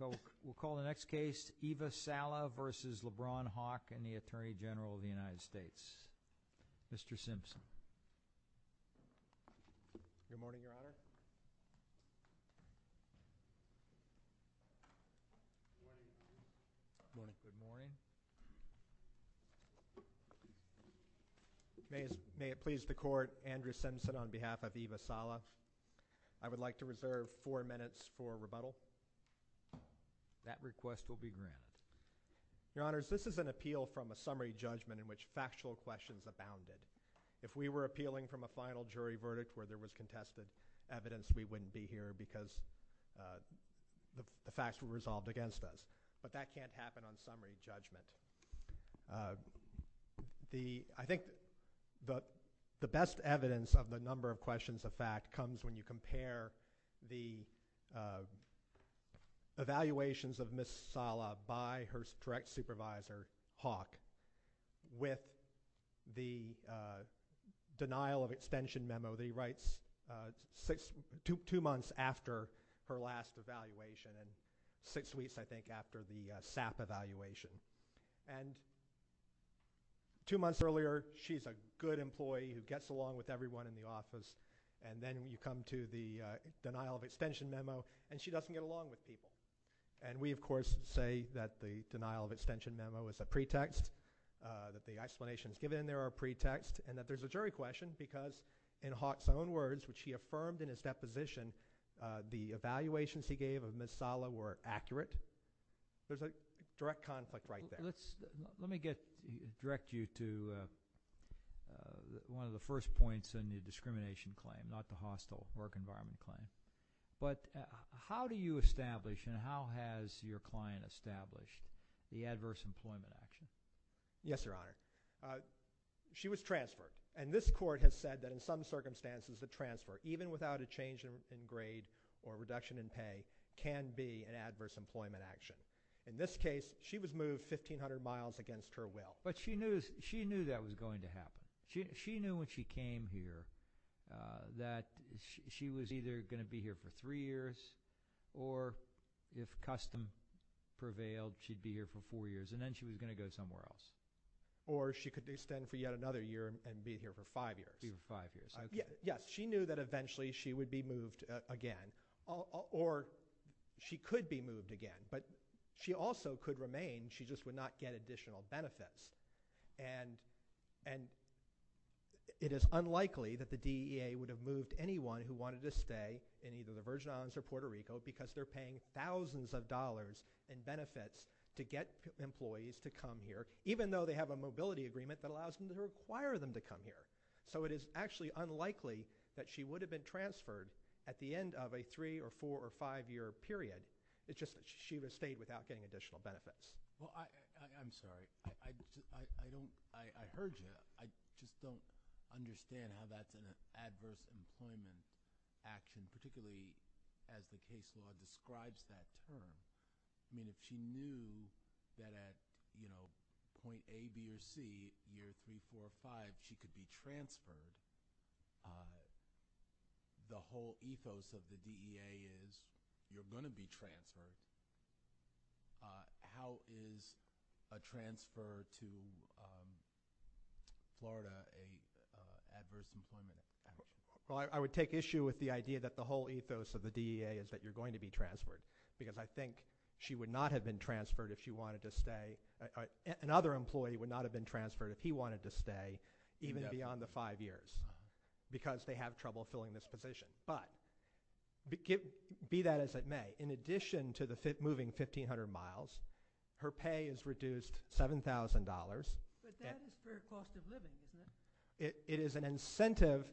and the Attorney General of the United States, Mr. Simpson. Good morning, Your Honor. Good morning. May it please the Court, Andrew Simpson on behalf of Eva Salav. I would like to reserve four minutes for a rebuttal. That request will be granted. Your Honors, this is an appeal from a summary judgment in which factual questions abounded. If we were appealing from a final jury verdict where there was contested evidence, we wouldn't be here because the facts were resolved against us. But that can't happen on summary judgment. I think the best evidence of the number of questions of fact comes when you compare the evaluations of Ms. Salav by her direct supervisor, Hawk, with the denial of extension memo that he writes two months after her last evaluation and six weeks, I think, after the SAP evaluation. Two months earlier, she's a good employee who gets along with everyone in the office, and then you come to the denial of extension memo and she doesn't get along with people. And we, of course, say that the denial of extension memo is a pretext, that the explanations given there are a pretext, and that there's a jury question because in Hawk's own words, which he affirmed in his deposition, the evaluations he gave of Ms. Sala were accurate. There's a direct conflict right there. Let me direct you to one of the first points in the discrimination claim, not the hostile work environment claim. How do you establish and how has your client established the adverse employment action? Yes, Your Honor. She was transferred, and this court has said that in some circumstances, the transfer, even without a change in grade or reduction in pay, can be an adverse employment action. In this case, she was moved 1,500 miles against her will. But she knew that was going to happen. She knew when she came here that she was either going to be here for three years or if custom prevailed, she'd be here for four years and then she was going to go somewhere else. Or she could extend for yet another year and be here for five years. She knew that eventually she would be moved again, or she could be moved again, but she also could remain, she just would not get additional benefits. It is unlikely that the DEA would have moved anyone who wanted to stay in either the Virgin Islands or Puerto Rico because they're paying thousands of dollars in benefits to get employees to come here, even though they have a mobility agreement that allows them to require them to come here. It is actually unlikely that she would have been transferred at the end of a three or four or five year period. It's just that she would have stayed without getting additional benefits. I'm sorry. I heard you. I just don't understand how that's an adverse employment action, particularly as the case law describes that term. I mean, if she knew that at point A, B, or C, year three, four, or five, she could be transferred, the whole ethos of the DEA is you're going to be transferred. How is a transfer to Florida an adverse employment action? Well, I would take issue with the idea that the whole ethos of the DEA is that you're going to be transferred because I think she would not have been transferred if she wanted to stay, another employee would not have been transferred if he wanted to stay even beyond the five years because they have trouble filling this position. But, be that as it may, in addition to the moving 1,500 miles, her pay is reduced $7,000. But that is for cost of living, isn't it? It is an incentive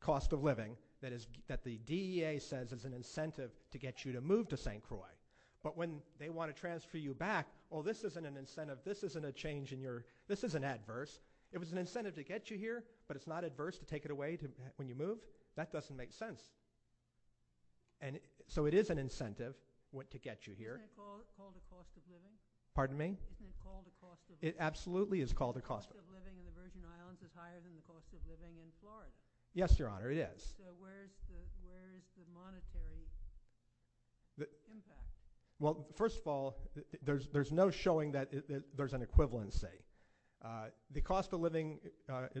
cost of living that the DEA says is an incentive to get you to move to St. Croix. But when they want to transfer you back, well, this isn't an incentive, this isn't a change in your, this isn't adverse. It was an incentive to get you here, but it's not adverse to take it away when you moved. That doesn't make sense. So it is an incentive to get you here. Pardon me? It absolutely is called a cost of living. Yes, Your Honor, it is. Well, first of all, there's no showing that there's an equivalency. The cost of living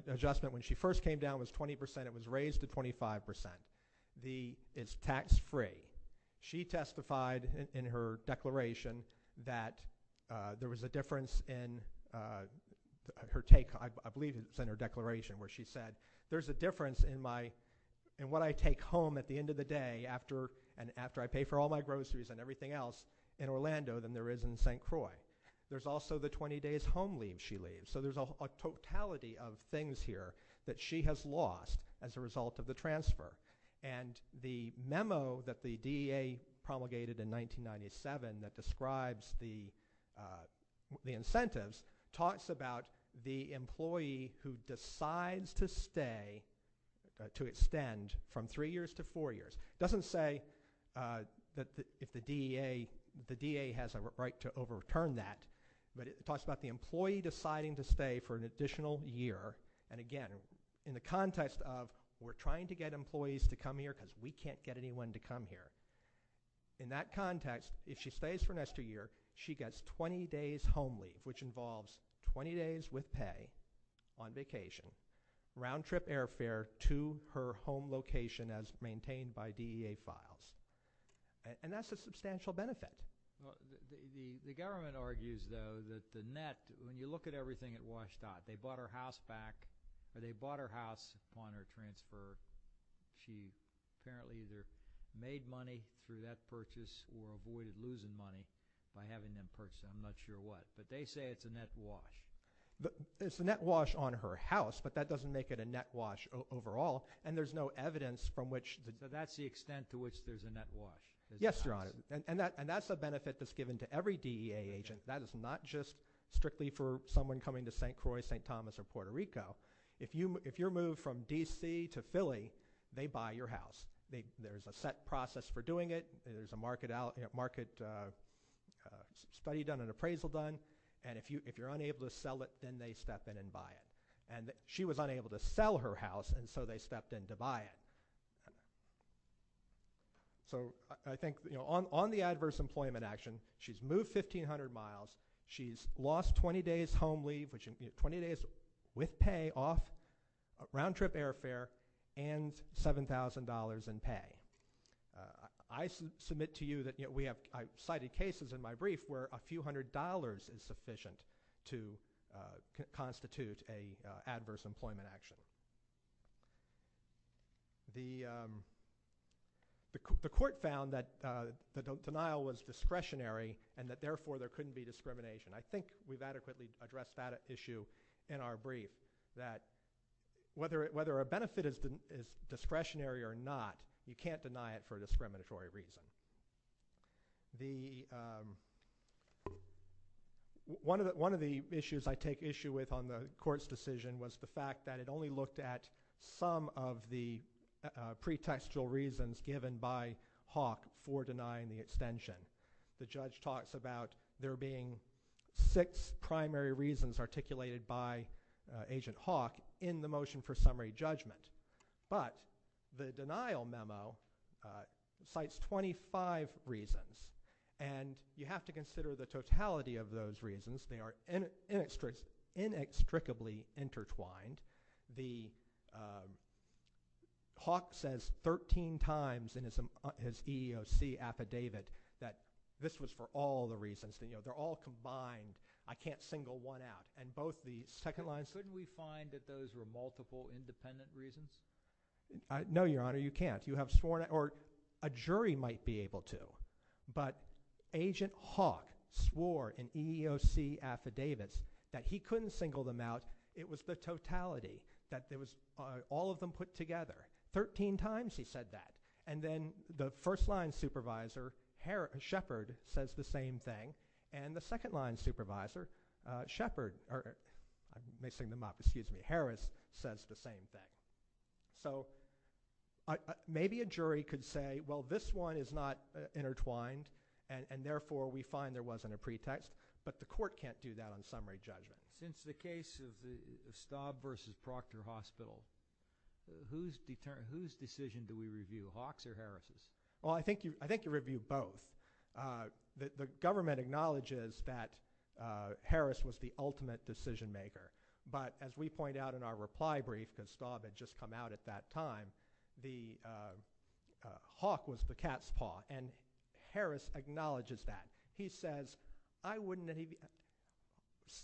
adjustment when she first came down was 20%. It was raised to 25%. It's tax-free. She testified in her declaration that there was a difference in her take, I believe it was in her declaration, where she said, there's a difference in what I take home at the end of the day after I pay for all my groceries and everything else in Orlando than there is in St. Croix. There's also the 20 days home leave she leaves. So there's a totality of things here that she has lost as a result of the transfer. And the memo that the DEA promulgated in 1997 that describes the incentives talks about the employee who decides to stay, to extend from three years to four years. It doesn't say if the DEA has a right to overturn that, but it talks about the employee deciding to stay for an additional year. And again, in the context of we're trying to get employees to come here because we can't get anyone to come here. In that context, if she stays for an extra year, she gets 20 days home leave, which involves 20 days with pay on vacation, round trip airfare to her home location as maintained by DEA files. And that's a substantial benefit. The government argues though that the net, when you look at everything at WSDOT, they bought her house back, or they bought her house upon her transfer. She apparently either made money through that purchase or avoided losing money by having them purchase it. I'm not sure what. But they say it's a net wash. It's a net wash on her house, but that doesn't make it a net wash overall. And there's no evidence from which that's the extent to which there's a net wash. Yes, Your Honor. And that's a benefit that's given to every DEA agent. That is not just strictly for someone coming to St. Croix, St. Thomas, or Puerto Rico. If you're moved from D.C. to Philly, they buy your house. There's a set process for doing it. There's a market study done and appraisal done. And if you're unable to sell it, then they step in and buy it. And she was unable to sell her house, and so they stepped in to buy it. On the adverse employment action, she's moved 1,500 miles. She's lost 20 days home leave, which is 20 days with pay off round-trip airfare and $7,000 in pay. I submit to you that we have cited cases in my brief where a few hundred dollars is sufficient to constitute an adverse employment action. The court found that the denial was discretionary and that therefore there couldn't be discrimination. I think we've adequately addressed that issue in our brief, that whether a benefit is discretionary or not, you can't deny it for a discriminatory reason. One of the issues I take issue with on the court's decision was the fact that it only looked at some of the pretextual reasons given by Hawk for denying the extension. The judge talks about there being six primary reasons articulated by Agent Hawk in the motion for summary judgment. But the denial memo cites 25 reasons, and you have to consider the totality of those reasons. They are inextricably intertwined. Hawk says 13 times in his EEOC affidavit that this was for all the reasons. They're all combined. I can't single one out. And both the second lines... No, Your Honor, you can't. A jury might be able to, but Agent Hawk swore in EEOC affidavits that he couldn't single them out. It was the totality. All of them put together. Thirteen times he said that. And then the first line supervisor, Shepherd, says the same thing. And the second line supervisor, Harris, says the same thing. So maybe a jury could say, well, this one is not intertwined, and therefore we find there wasn't a pretext. But the court can't do that on summary judgment. Since the case of Staub v. Proctor Hospital, whose decision do we review? Hawk's or Harris's? Well, I think you know that Harris was the ultimate decision maker. But as we point out in our reply brief, because Staub had just come out at that time, Hawk was the cat's paw. And Harris acknowledges that. He says,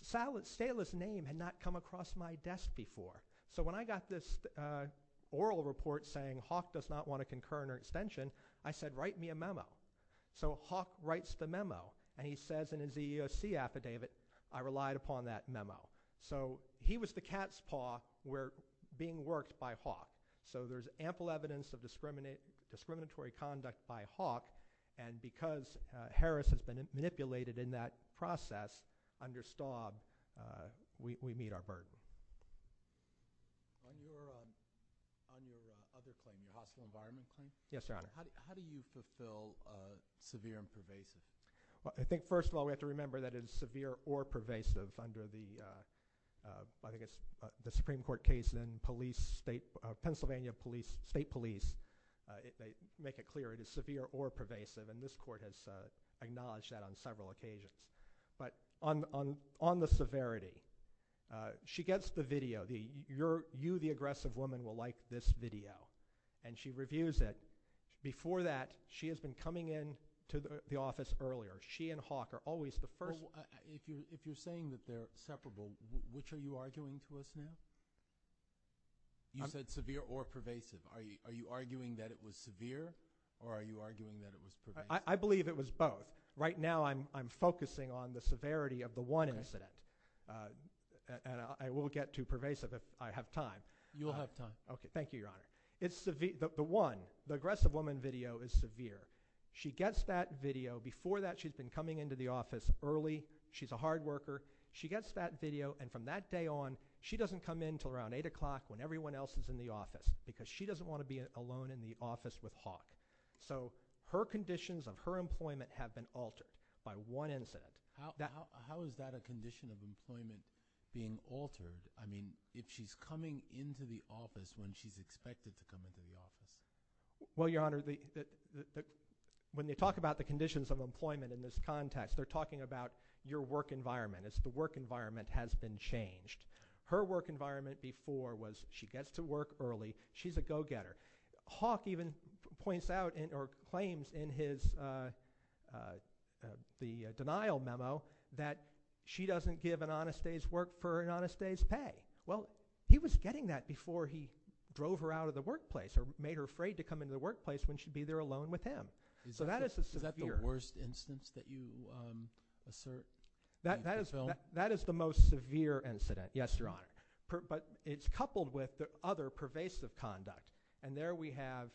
Stala's name had not come across my desk before. So when I got this oral report saying Hawk does not want a concurrent or extension, I said, write me a memo. So Hawk writes the memo. And he says in his EEOC affidavit, I relied upon that memo. So he was the cat's paw. We're being worked by Hawk. So there's ample evidence of discriminatory conduct by Hawk. And because Harris has been manipulated in that process under Staub, we meet our burden. Yes, Your Honor. How do you fulfill severe and pervasive? Well, I think first of all we have to remember that it is severe or pervasive under the Supreme Court case in Pennsylvania State Police. They make it clear it is severe or pervasive. And this court has acknowledged that on the video. You, the aggressive woman, will like this video. And she reviews it. Before that, she has been coming into the office earlier. She and Hawk are always the first. If you're saying that they're separable, which are you arguing to us now? You said severe or pervasive. Are you arguing that it was severe or are you arguing that it was pervasive? I believe it was both. Right now I'm focusing on the severity of the one incident. And I will get to pervasive if I have time. Thank you, Your Honor. The one, the aggressive woman video is severe. She gets that video. Before that, she's been coming into the office early. She's a hard worker. She gets that video. And from that day on, she doesn't come in until around 8 o'clock when everyone else is in the office. Because she doesn't want to be alone in the office with Hawk. So her conditions of her employment have been altered by one incident. How is that a condition of employment being altered? I mean, if she's coming into the office when she's expected to come into the office? Well, Your Honor, when they talk about the conditions of employment in this context, they're talking about your work environment. It's the work environment has been changed. Her work environment before was she gets to work early. She's a go-getter. Hawk even points out or claims in his denial memo that she doesn't give an honest day's work for an honest day's pay. Well, he was getting that before he drove her out of the workplace or made her afraid to come into the office and be there alone with him. Is that the worst instance that you assert? That is the most severe incident, yes, Your Honor. But it's coupled with other pervasive conduct. And there we have,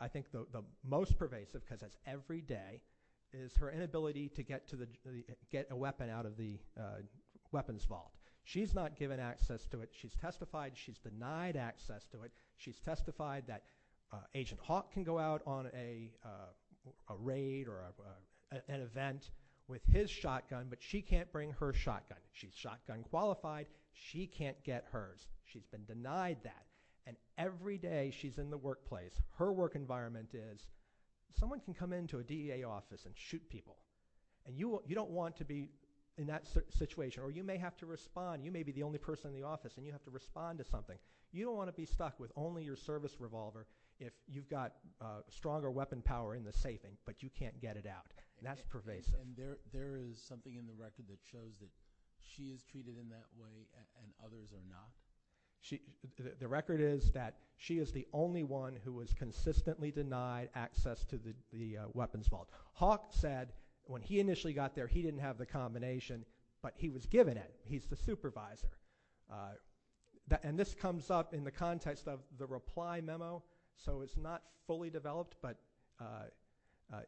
I think, the most pervasive because it's every day, is her inability to get a weapon out of the weapons vault. She's not given access to it. She's testified she's denied access to it. She's testified that Agent Hawk can go out on a raid or an event with his shotgun, but she can't bring her shotgun. She's shotgun qualified. She can't get hers. She's been denied that. And every day she's in the workplace. Her work environment is someone can come into a DEA office and shoot people. And you don't want to be in that situation. Or you may have to respond. You may be the only person in the office and you have to respond to something. You don't want to be stuck with only your service revolver if you've got stronger weapon power in the safe, but you can't get it out. And that's pervasive. And there is something in the record that shows that she is treated in that way and others are not? The record is that she is the only one who was consistently denied access to the weapons vault. Hawk said when he initially got there he didn't have the combination, but he was given it. He's the supervisor. And this comes up in the context of the reply memo, so it's not fully developed, but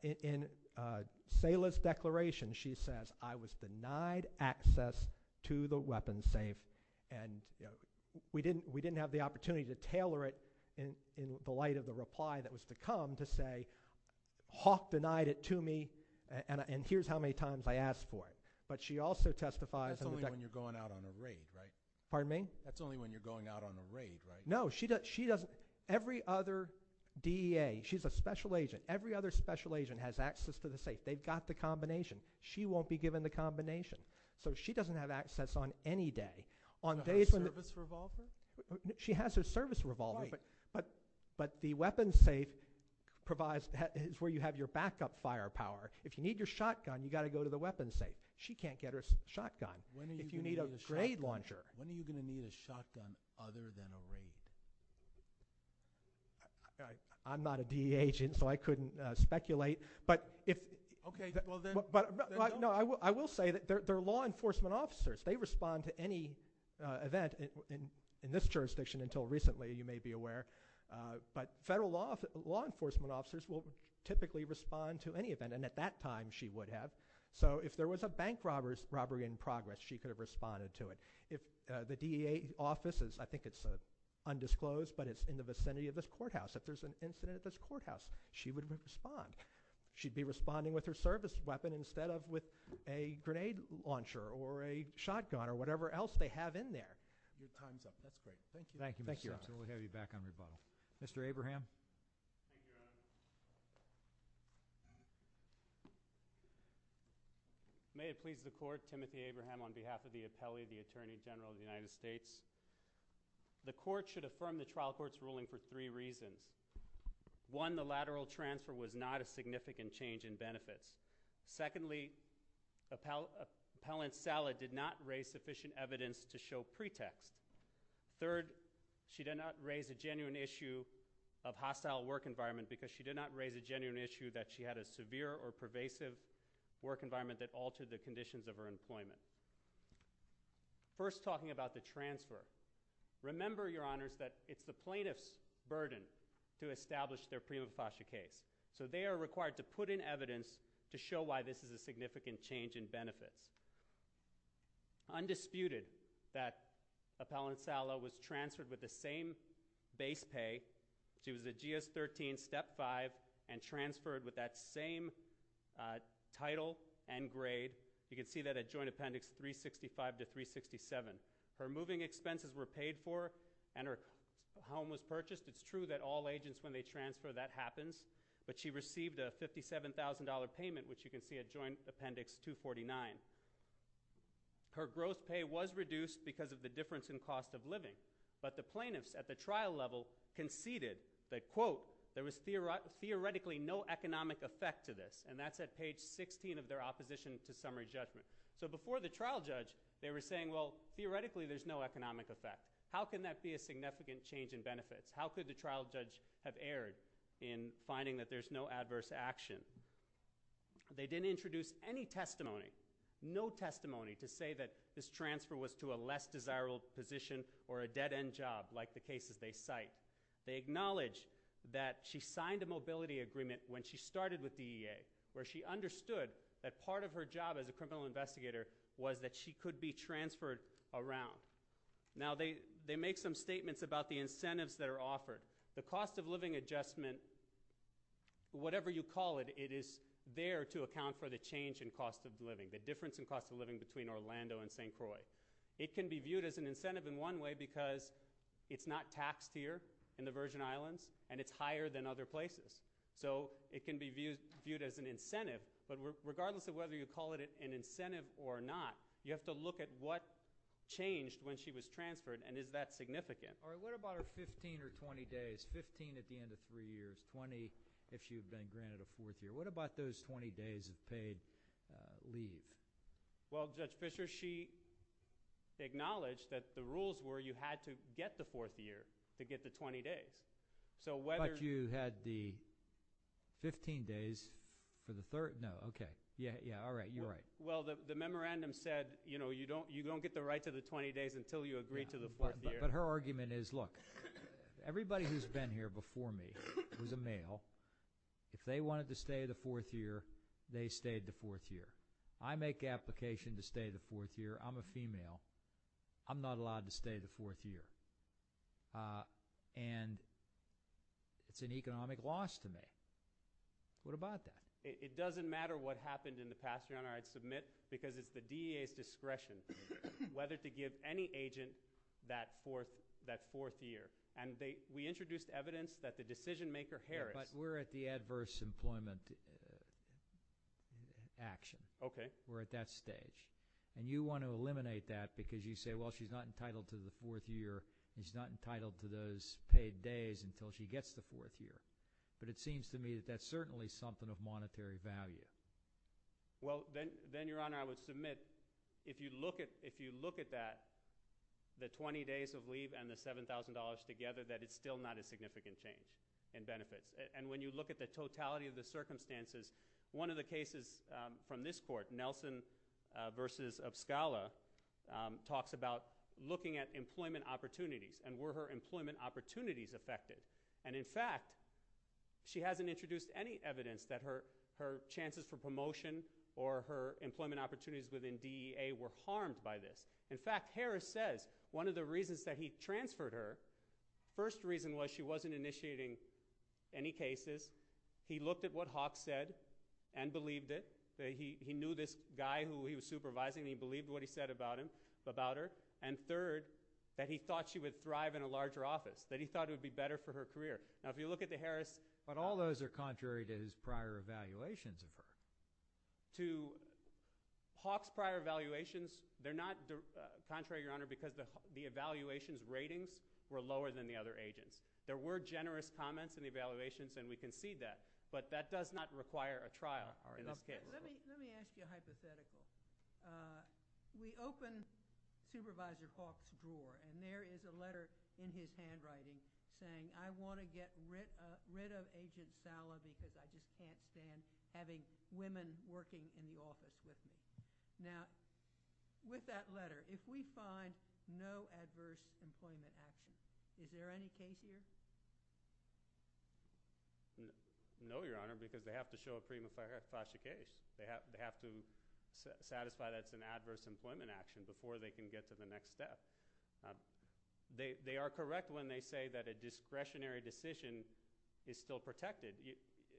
in Sayla's declaration she says, I was denied access to the weapons safe. And we didn't have the opportunity to tailor it in the light of the reply that was to come to say Hawk denied it to me and here's how many times I asked for it. But she also testifies. That's only when you're going out on a raid, right? No, she doesn't. Every other DEA, she's a special agent. Every other special agent has access to the safe. They've got the combination. She won't be given the combination. So she doesn't have access on any day. She has her service revolver, but the weapons safe is where you have your backup firepower. If you need your shotgun you've got to go to the weapons safe. She can't get her shotgun if you need a grade launcher. When are you going to need a shotgun other than a raid? I'm not a DEA agent so I couldn't speculate. I will say that they're law enforcement officers. They respond to any event in this jurisdiction until recently you may be aware. But federal law enforcement officers will typically respond to any event and at that time she would have. So if there was a bank robbery in progress she could have responded to it. The DEA office, I think it's undisclosed, but it's in the vicinity of this courthouse. If there's an incident at this courthouse she would respond. She'd be responding with her service weapon instead of with a grenade launcher or a shotgun or whatever else they have in there. Thank you. We'll have you back on rebuttal. Mr. Abraham. May it please the Court. Timothy Abraham on behalf of the Appellee, the Attorney General of the United States. The Court should affirm the trial court's ruling for three reasons. One, the lateral transfer was not a significant change in benefits. Secondly, Appellant Sala did not raise sufficient evidence to show pretext. Third, she did not raise a genuine issue of hostile work environment because she did not raise a genuine issue that she had a severe or pervasive work environment that altered the conditions of her employment. First talking about the transfer, remember, Your Honors, that it's the plaintiff's burden to establish their prima facie case. So they are required to put in evidence to show why this is a significant change in benefits. Undisputed that Appellant Sala was transferred with the same base pay. She was a GS-13 Step 5 and transferred with that same title and grade. You can see that at Joint Appendix 365 to 367. Her moving expenses were paid for and her home was purchased. It's true that all agents, when they transfer, that happens. But she received a $57,000 payment, which you can see at Joint Appendix 249. Her growth pay was reduced because of the difference in cost of living, but the plaintiffs at the trial level conceded that, quote, there was theoretically no economic effect to this. And that's at page 16 of their opposition to summary judgment. So before the trial judge, they were saying, well, theoretically there's no economic effect. How can that be a significant change in benefits? How could the trial judge have erred in finding that there's no adverse action? They didn't introduce any testimony, no testimony to say that this transfer was to a less desirable position or a dead-end job like the cases they cite. They acknowledge that she signed a mobility agreement when she started with the EA, where she understood that part of her job as a criminal investigator was that she could be transferred around. Now, they make some statements about the incentives that are offered. The cost of living adjustment, whatever you call it, it is there to account for the change in cost of living, the difference in cost of living between Orlando and St. Croix. It can be viewed as an incentive in one way because it's not taxed here in the Virgin Islands, and it's higher than other places. So it can be viewed as an incentive, but regardless of whether you call it an incentive or not, you have to look at what changed when she was transferred and is that significant. All right. What about her 15 or 20 days, 15 at the end of three years, 20 if she had been granted a fourth year? What about those 20 days of paid leave? Well, Judge Fischer, she acknowledged that the rules were you had to get the fourth year to get the 20 days. But you had the 15 days for the third? No. Okay. Yeah. Yeah. All right. You're right. Well, the memorandum said you don't get the right to the 20 days until you agree to the fourth year. But her argument is, look, everybody who's been here before me was a male. If they wanted to stay the fourth year, they stayed the fourth year. I make application to stay the fourth year. I'm a female. I'm not allowed to stay the fourth year. And it's an economic loss to me. What about that? It doesn't matter what happened in the past. Your Honor, I'd submit because it's the D.A.'s discretion whether to give any agent that fourth year. And we introduced evidence that the decision maker Harris. But we're at the adverse employment action. Okay. We're at that stage. And you want to eliminate that because you say, well, she's not entitled to the fourth year. She's not entitled to those paid days until she gets the fourth year. But it seems to me that that's certainly something of monetary value. Well, then, Your Honor, I would submit if you look at that, the 20 days of leave and the $7,000 together, that it's still not a significant change in benefits. And when you look at the totality of the circumstances, one of the cases from this court, Nelson v. Opscala, talks about looking at employment opportunities and were her employment opportunities affected. And in fact, she hasn't introduced any evidence that her chances for promotion or her employment opportunities within D.E.A. were affected. The first reason was she wasn't initiating any cases. He looked at what Hawk said and believed it. He knew this guy who he was supervising. He believed what he said about her. And third, that he thought she would thrive in a larger office. That he thought it would be better for her career. Now, if you look at the Harris... But all those are contrary to his prior evaluations of her. To Hawk's prior evaluations, they're not contrary, Your Honor, because the evaluations ratings were lower than the other agents. There were generous comments in the evaluations, and we concede that. But that does not require a trial in this case. Let me ask you a hypothetical. We opened Supervisor Hawk's drawer, and there is a letter in his handwriting saying, I want to get rid of Agent Sala because I just can't stand having women working in the office with me. Now, with that letter, if we find no adverse employment action, is there any case here? No, Your Honor, because they have to show a prima facie case. They have to satisfy that it's an adverse employment action before they can get to the next step. They are correct when they say that a discretionary decision is still protected.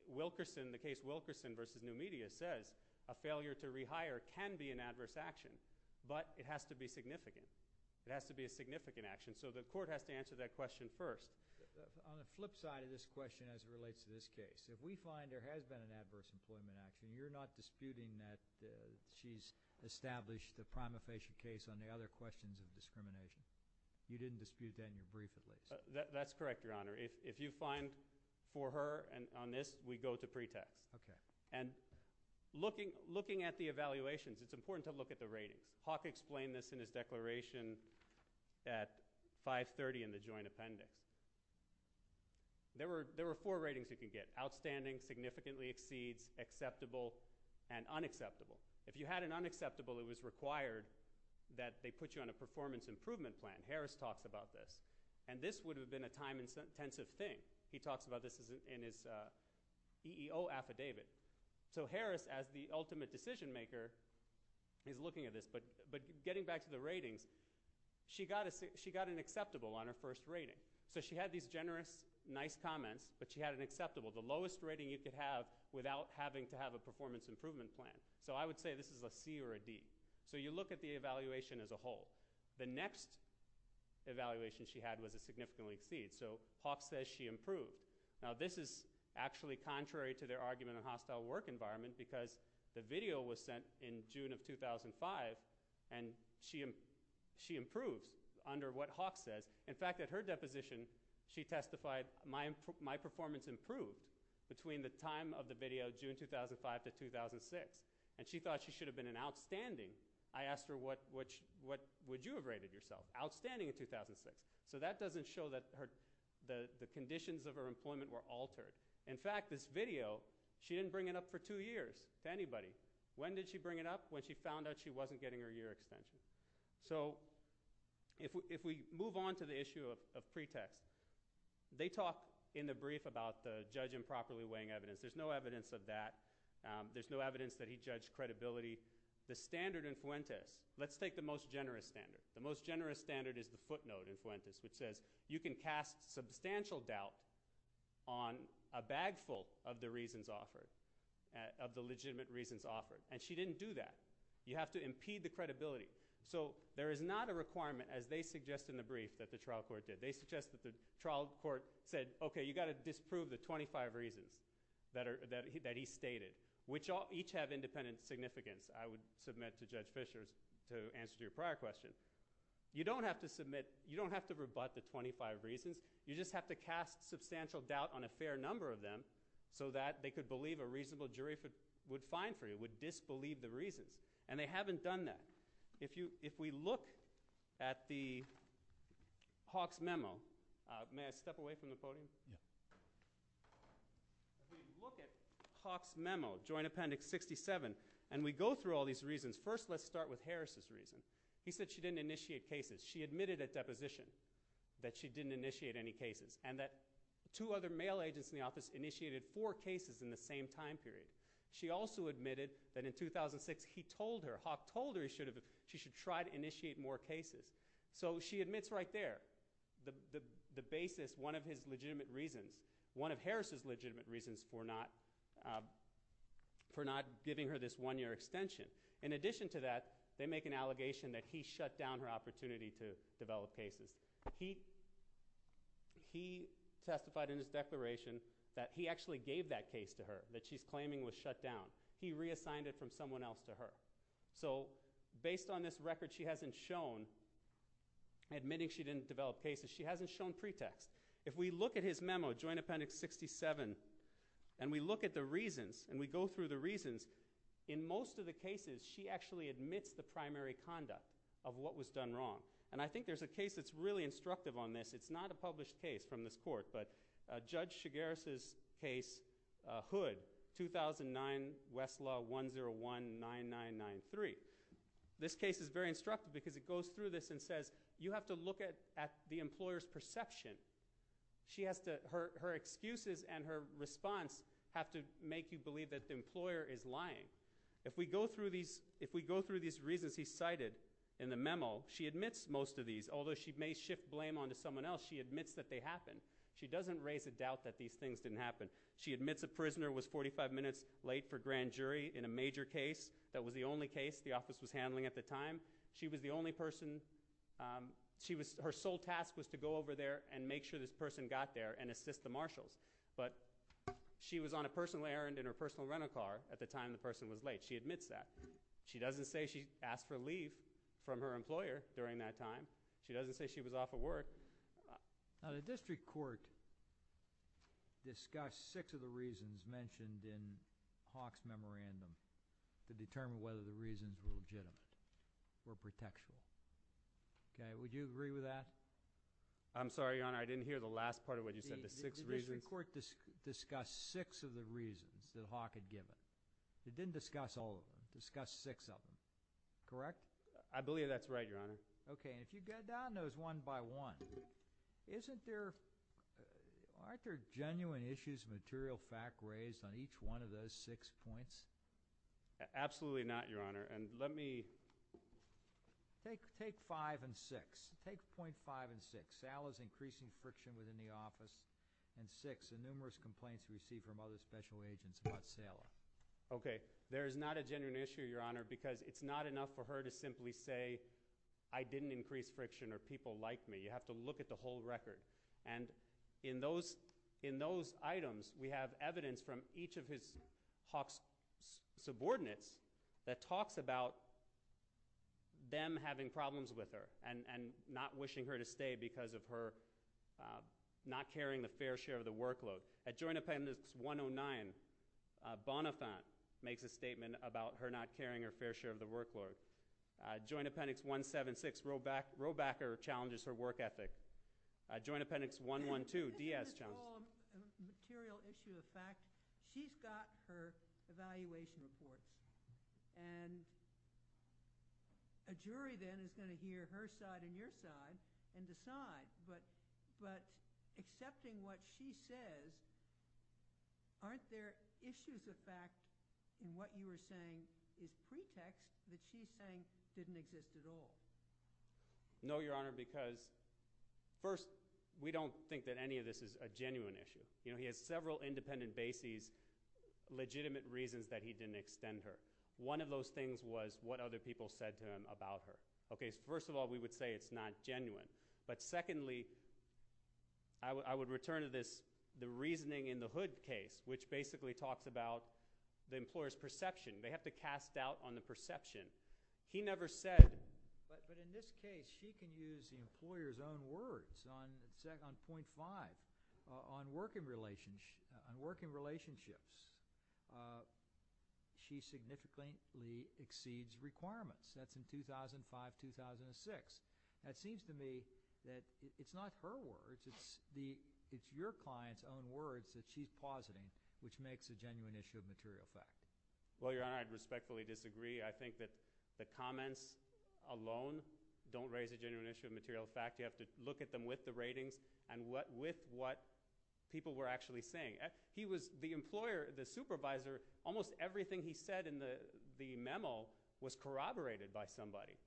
Wilkerson, the case Wilkerson v. New Media says a failure to rehire can be an adverse action, but it has to be significant. It has to be a significant action. So, the court has to answer that question first. On the flip side of this question, as it relates to this case, if we find there has been an adverse employment action, you're not disputing that she's established a prima facie case on the other questions of discrimination. You didn't dispute that in your brief, at least. That's correct, Your Honor. If you find for her on this, we go to pretext. Okay. Looking at the evaluations, it's important to look at the rating. Hawk explained this in his declaration at 530 in the joint appendix. There were four ratings you could get. Outstanding, significantly exceeds, acceptable, and unacceptable. If you had an unacceptable, it was required that they put you on a performance improvement plan. Harris talks about this. This would have been a time-intensive thing. He talks about this in his EEO affidavit. So, Harris, as the ultimate decision maker, is looking at this. Getting back to the ratings, she got an acceptable on her first rating. She had these generous, nice comments, but she had an acceptable, the lowest rating you could have without having to have a performance improvement plan. I would say this is a C or a D. You look at the evaluation as a whole. The next evaluation she had was a significantly exceed. Hawk says she improved. This is actually contrary to their argument on hostile work environment because the video was sent in June of 2005 and she improved under what Hawk says. In fact, at her deposition, she testified, my performance improved between the time of the video June 2005 to 2006. She thought she should have been an outstanding. I asked her, what would you have rated yourself? Outstanding in 2006. That doesn't show that the conditions of her employment were altered. In fact, this video, she didn't bring it up for two years to anybody. When did she bring it up? When she found out she wasn't getting her year extension. If we move on to the issue of pretext, they talk in the brief about the judge improperly weighing evidence. There's no evidence of that. There's no evidence that he judged credibility. The standard in Fuentes, let's take the most generous standard. The most generous standard is the footnote in Fuentes which says you can cast substantial doubt on a bag full of the legitimate reasons offered. She didn't do that. You have to impede the credibility. There is not a requirement as they suggest in the brief that the trial court did. They suggest that the trial court said, okay, you've got to disprove the 25 reasons that he stated, which each have independent significance. I would submit to Judge Fischer to answer to your prior question. You don't have to submit, you don't have to rebut the 25 reasons. You just have to cast substantial doubt on a fair number of them so that they could believe a reasonable jury would find for you, would disbelieve the reasons. They haven't done that. If we look at the Hawk's memo, may I step away from the podium? If we look at Hawk's memo, Joint Appendix 67, and we go through all these reasons, first let's start with Harris' reason. He said she didn't initiate cases. She admitted at deposition that she didn't initiate any cases and that two other mail agents in the office initiated four cases in the same time period. She also admitted that in 2006, he told her, Hawk told her she should try to initiate more cases. So she admits right there the basis, one of his legitimate reasons, one of Harris' legitimate reasons for not giving her this one year extension. In addition to that, they make an allegation that he shut down her opportunity to develop cases. He testified in his declaration that he actually gave that case to her that she's claiming was shut down. He reassigned it from someone else to her. So based on this record, she hasn't shown, admitting she didn't develop cases, she hasn't shown pretext. If we look at his memo, Joint Appendix 67, and we look at the reasons and we go through the reasons, in most of the cases, she actually admits the primary conduct of what was done wrong. And I think there's a case that's really instructive on this. It's not a published case from this court, but Judge Chigares' case, Hood, 2009, Westlaw 101-9993. This case is very instructive because it goes through this and says, you have to look at the employer's perception. Her excuses and her reasons, if we go through these reasons he cited in the memo, she admits most of these. Although she may shift blame onto someone else, she admits that they happened. She doesn't raise a doubt that these things didn't happen. She admits a prisoner was 45 minutes late for grand jury in a major case. That was the only case the office was handling at the time. She was the only person, her sole task was to go over there and make sure this person got there and assist the marshals. But she was on a personal errand in her personal rental car at the time the person was late. She admits that. She doesn't say she asked for leave from her employer during that time. She doesn't say she was off of work. The district court discussed six of the reasons mentioned in Hawk's memorandum to determine whether the reasons were legitimate or protection. Would you agree with that? I'm sorry, Your Honor. I didn't hear the last part of what you said, the six reasons. The district court discussed six of the reasons that Hawk had given. It didn't discuss all of them. It discussed six of them. Correct? I believe that's right, Your Honor. Okay. And if you go down those one by one, aren't there genuine issues of material fact raised on each one of those six points? Absolutely not, Your Honor. And let me... Take five and six. Take point five and six. Okay. Okay. There is not a genuine issue, Your Honor, because it's not enough for her to simply say, I didn't increase friction or people liked me. You have to look at the whole record. And in those items, we have evidence from each of his Hawk's subordinates that talks about them having problems with her and not wishing her to stay because of her not carrying the fair share of the workload. At Joint Appendix 109, Bonifant makes a statement about her not carrying her fair share of the workload. Joint Appendix 176, Robacker challenges her work ethic. Joint Appendix 112, Diaz challenges... It's all a material issue of fact. She's got her evaluation report. And a jury then is going to hear her side and your side and decide. But accepting what she says, aren't there issues of fact in what you were saying is pretext that she thinks didn't exist at all? No, Your Honor, because first, we don't think that any of this is a genuine issue. He has several independent bases, legitimate reasons that he didn't extend her. One of those things was what other people said to him about her. First of all, we would say it's not genuine. But secondly, I would return to this reasoning in the Hood case, which basically talks about the employer's perception. They have to cast doubt on the perception. He never said... On working relationships, she significantly exceeds requirements. That's in 2005-2006. That seems to me that it's not her words. It's your client's own words that she's positing, which makes a genuine issue of material fact. Well, Your Honor, I'd respectfully disagree. I think that the comments alone don't raise a genuine issue of material fact. You have to look at them with the ratings and with what people were actually saying. The employer, the supervisor, almost everything he said in the memo was corroborated by somebody.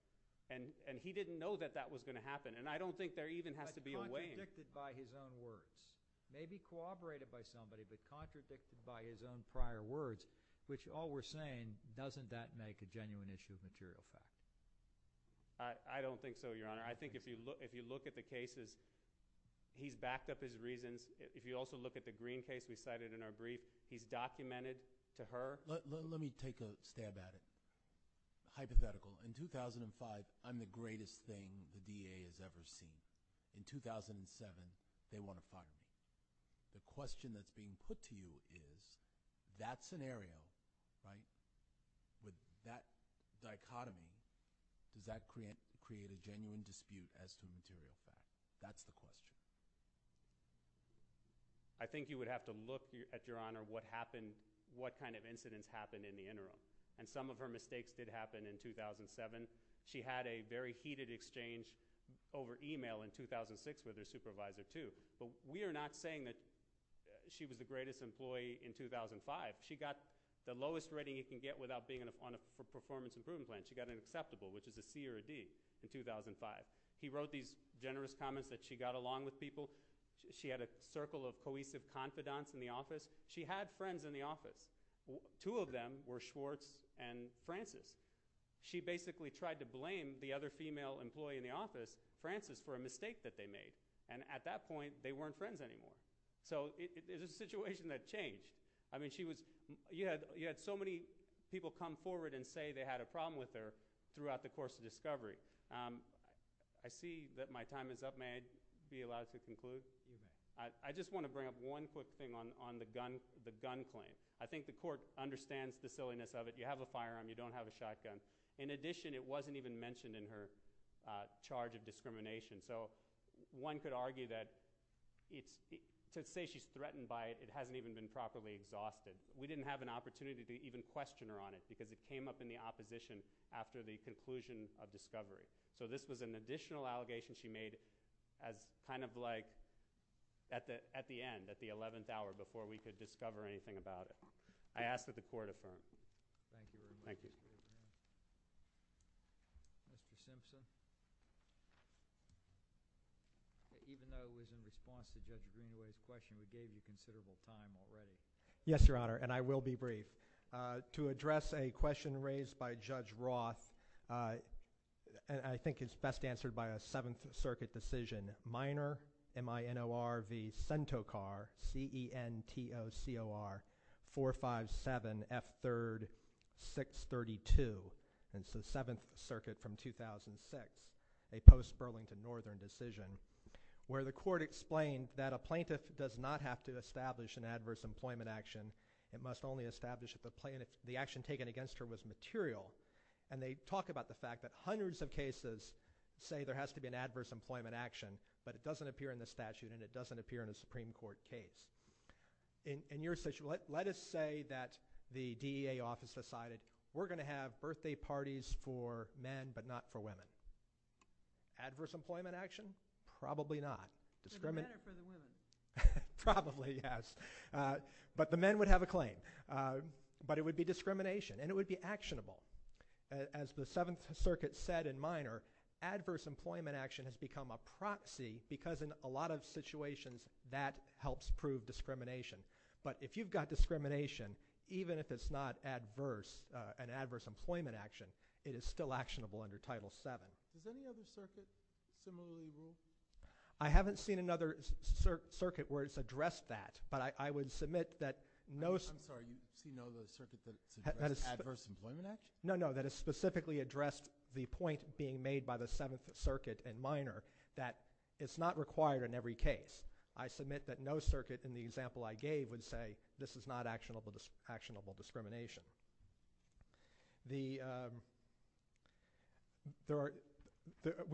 He didn't know that that was going to happen. I don't think there even has to be a weighing. But contradicted by his own words. Maybe corroborated by somebody, but contradicted by his own prior words, which all we're saying, doesn't that make a genuine issue of material fact? I don't think so, Your Honor. I think if you look at the cases, he's backed up his reasons. If you also look at the Green case we cited in our brief, he's documented to her... Let me take a stab at it. Hypothetical. In 2005, I'm the greatest thing the DA has ever seen. In 2007, they want to find me. The question that's being put to you is, that scenario, with that dichotomy, does that create a genuine dispute as to material fact? That's the question. I think you would have to look at, Your Honor, what happened, what kind of incidents happened in the interim. And some of her mistakes did happen in 2007. She had a very heated exchange over email in 2006 with her supervisor, too. But we are not saying that she was the greatest employee in 2005. She got the lowest rating you can get without being on a performance improvement plan. She got an acceptable, which is a C or a D, in 2005. He wrote these generous comments that she got along with people. She had a circle of cohesive confidants in the office. She had friends in the office. Two of them were Schwartz and Francis. She basically tried to blame the other female employee in the office, Francis, for a mistake that they made. At that point, they weren't friends anymore. It's a situation that changed. You had so many people come forward and say they had a problem with her throughout the course of discovery. I see that my time is up. May I be allowed to conclude? I just want to bring up one quick thing on the gun claim. I think the court understands the silliness of it. You have a firearm. You don't have a shotgun. In addition, it wasn't even mentioned in her charge of discrimination. So one could argue that to say she's threatened by it, it hasn't even been properly exhausted. We didn't have an opportunity to even question her on it because it came up in the opposition after the conclusion of discovery. So this was an argument that the 11th hour before we could discover anything about it. I ask that the court affirm. Thank you. Even though it was in response to Judge Greenway's question, we gave you considerable time already. Yes, Your Honor, and I will be brief. To address a question raised by Judge Roth, and I think it's best answered by a Seventh Circuit decision, Minor, M-I-N-O-R V. Centocar, C-E-N-T-O-C-O-R, 457 F. 3rd, 632. It's the Seventh Circuit from 2006. A post Burlington Northern decision where the court explained that a plaintiff does not have to establish an adverse employment action. It must only establish that the action taken against her was material, and they talk about the fact that hundreds of cases say there has to be an adverse employment action, but it doesn't appear in the statute, and it doesn't appear in a Supreme Court case. In your situation, let us say that the DEA office decided we're going to have birthday parties for men, but not for women. Adverse employment action? Probably not. For the men or for the women? Probably, yes. But the men would have a claim. But it would be discrimination, and it would be actionable. As the Seventh Circuit said in Minor, adverse employment action has become a proxy because in a lot of situations that helps prove discrimination. But if you've got discrimination, even if it's not an adverse employment action, it is still actionable under Title VII. Is there any other circuit similarly ruled? I haven't seen another circuit where it's addressed that, but I would submit that no... I'm sorry, you've seen no other circuit that's addressed adverse employment action? No, no, that has specifically addressed the point being made by the Seventh Circuit in Minor that it's not required in every case. I submit that no circuit in the example I gave would say this is not actionable discrimination. We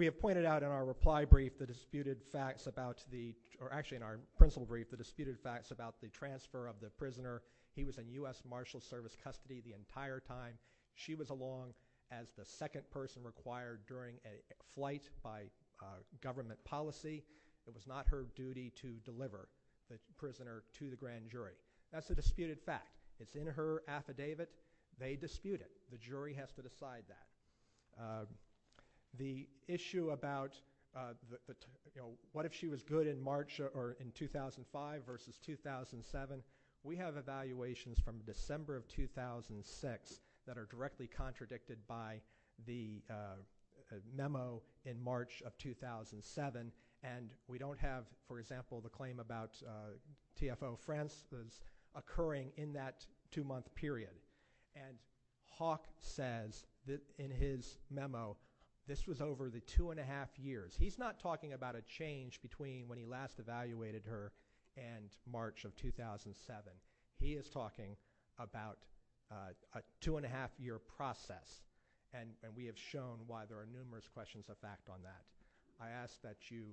have pointed out in our reply brief the disputed facts about the, or actually in our principle brief, the disputed facts about the transfer of the prisoner. He was in U.S. Marshals Service custody the entire time. She was along as the second person required during a flight by government policy. It was not her duty to deliver the prisoner to the grand jury. That's a disputed fact. It's in her affidavit. They dispute it. The jury has to decide that. The issue about what if she was good in 2005 versus 2007, we have evaluations from December of 2006 that are directly contradicted by the memo in March of 2007, and we don't have, for example, the claim about TFO France occurring in that two-month period. Hawke says in his memo this was over the two-and-a-half years. He's not talking about a change between when he last evaluated her and March of 2007. He is talking about a two-and-a-half year process, and we have shown why there are numerous questions of fact on that. I ask that you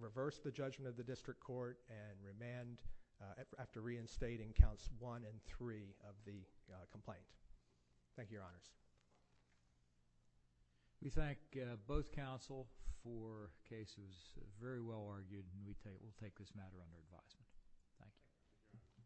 reverse the judgment of the district court and remand, after reinstating counts one and three of the complaint. Thank you, Your Honors. We thank both counsel for cases very well argued, and we'll take this matter under advisement. Thank you.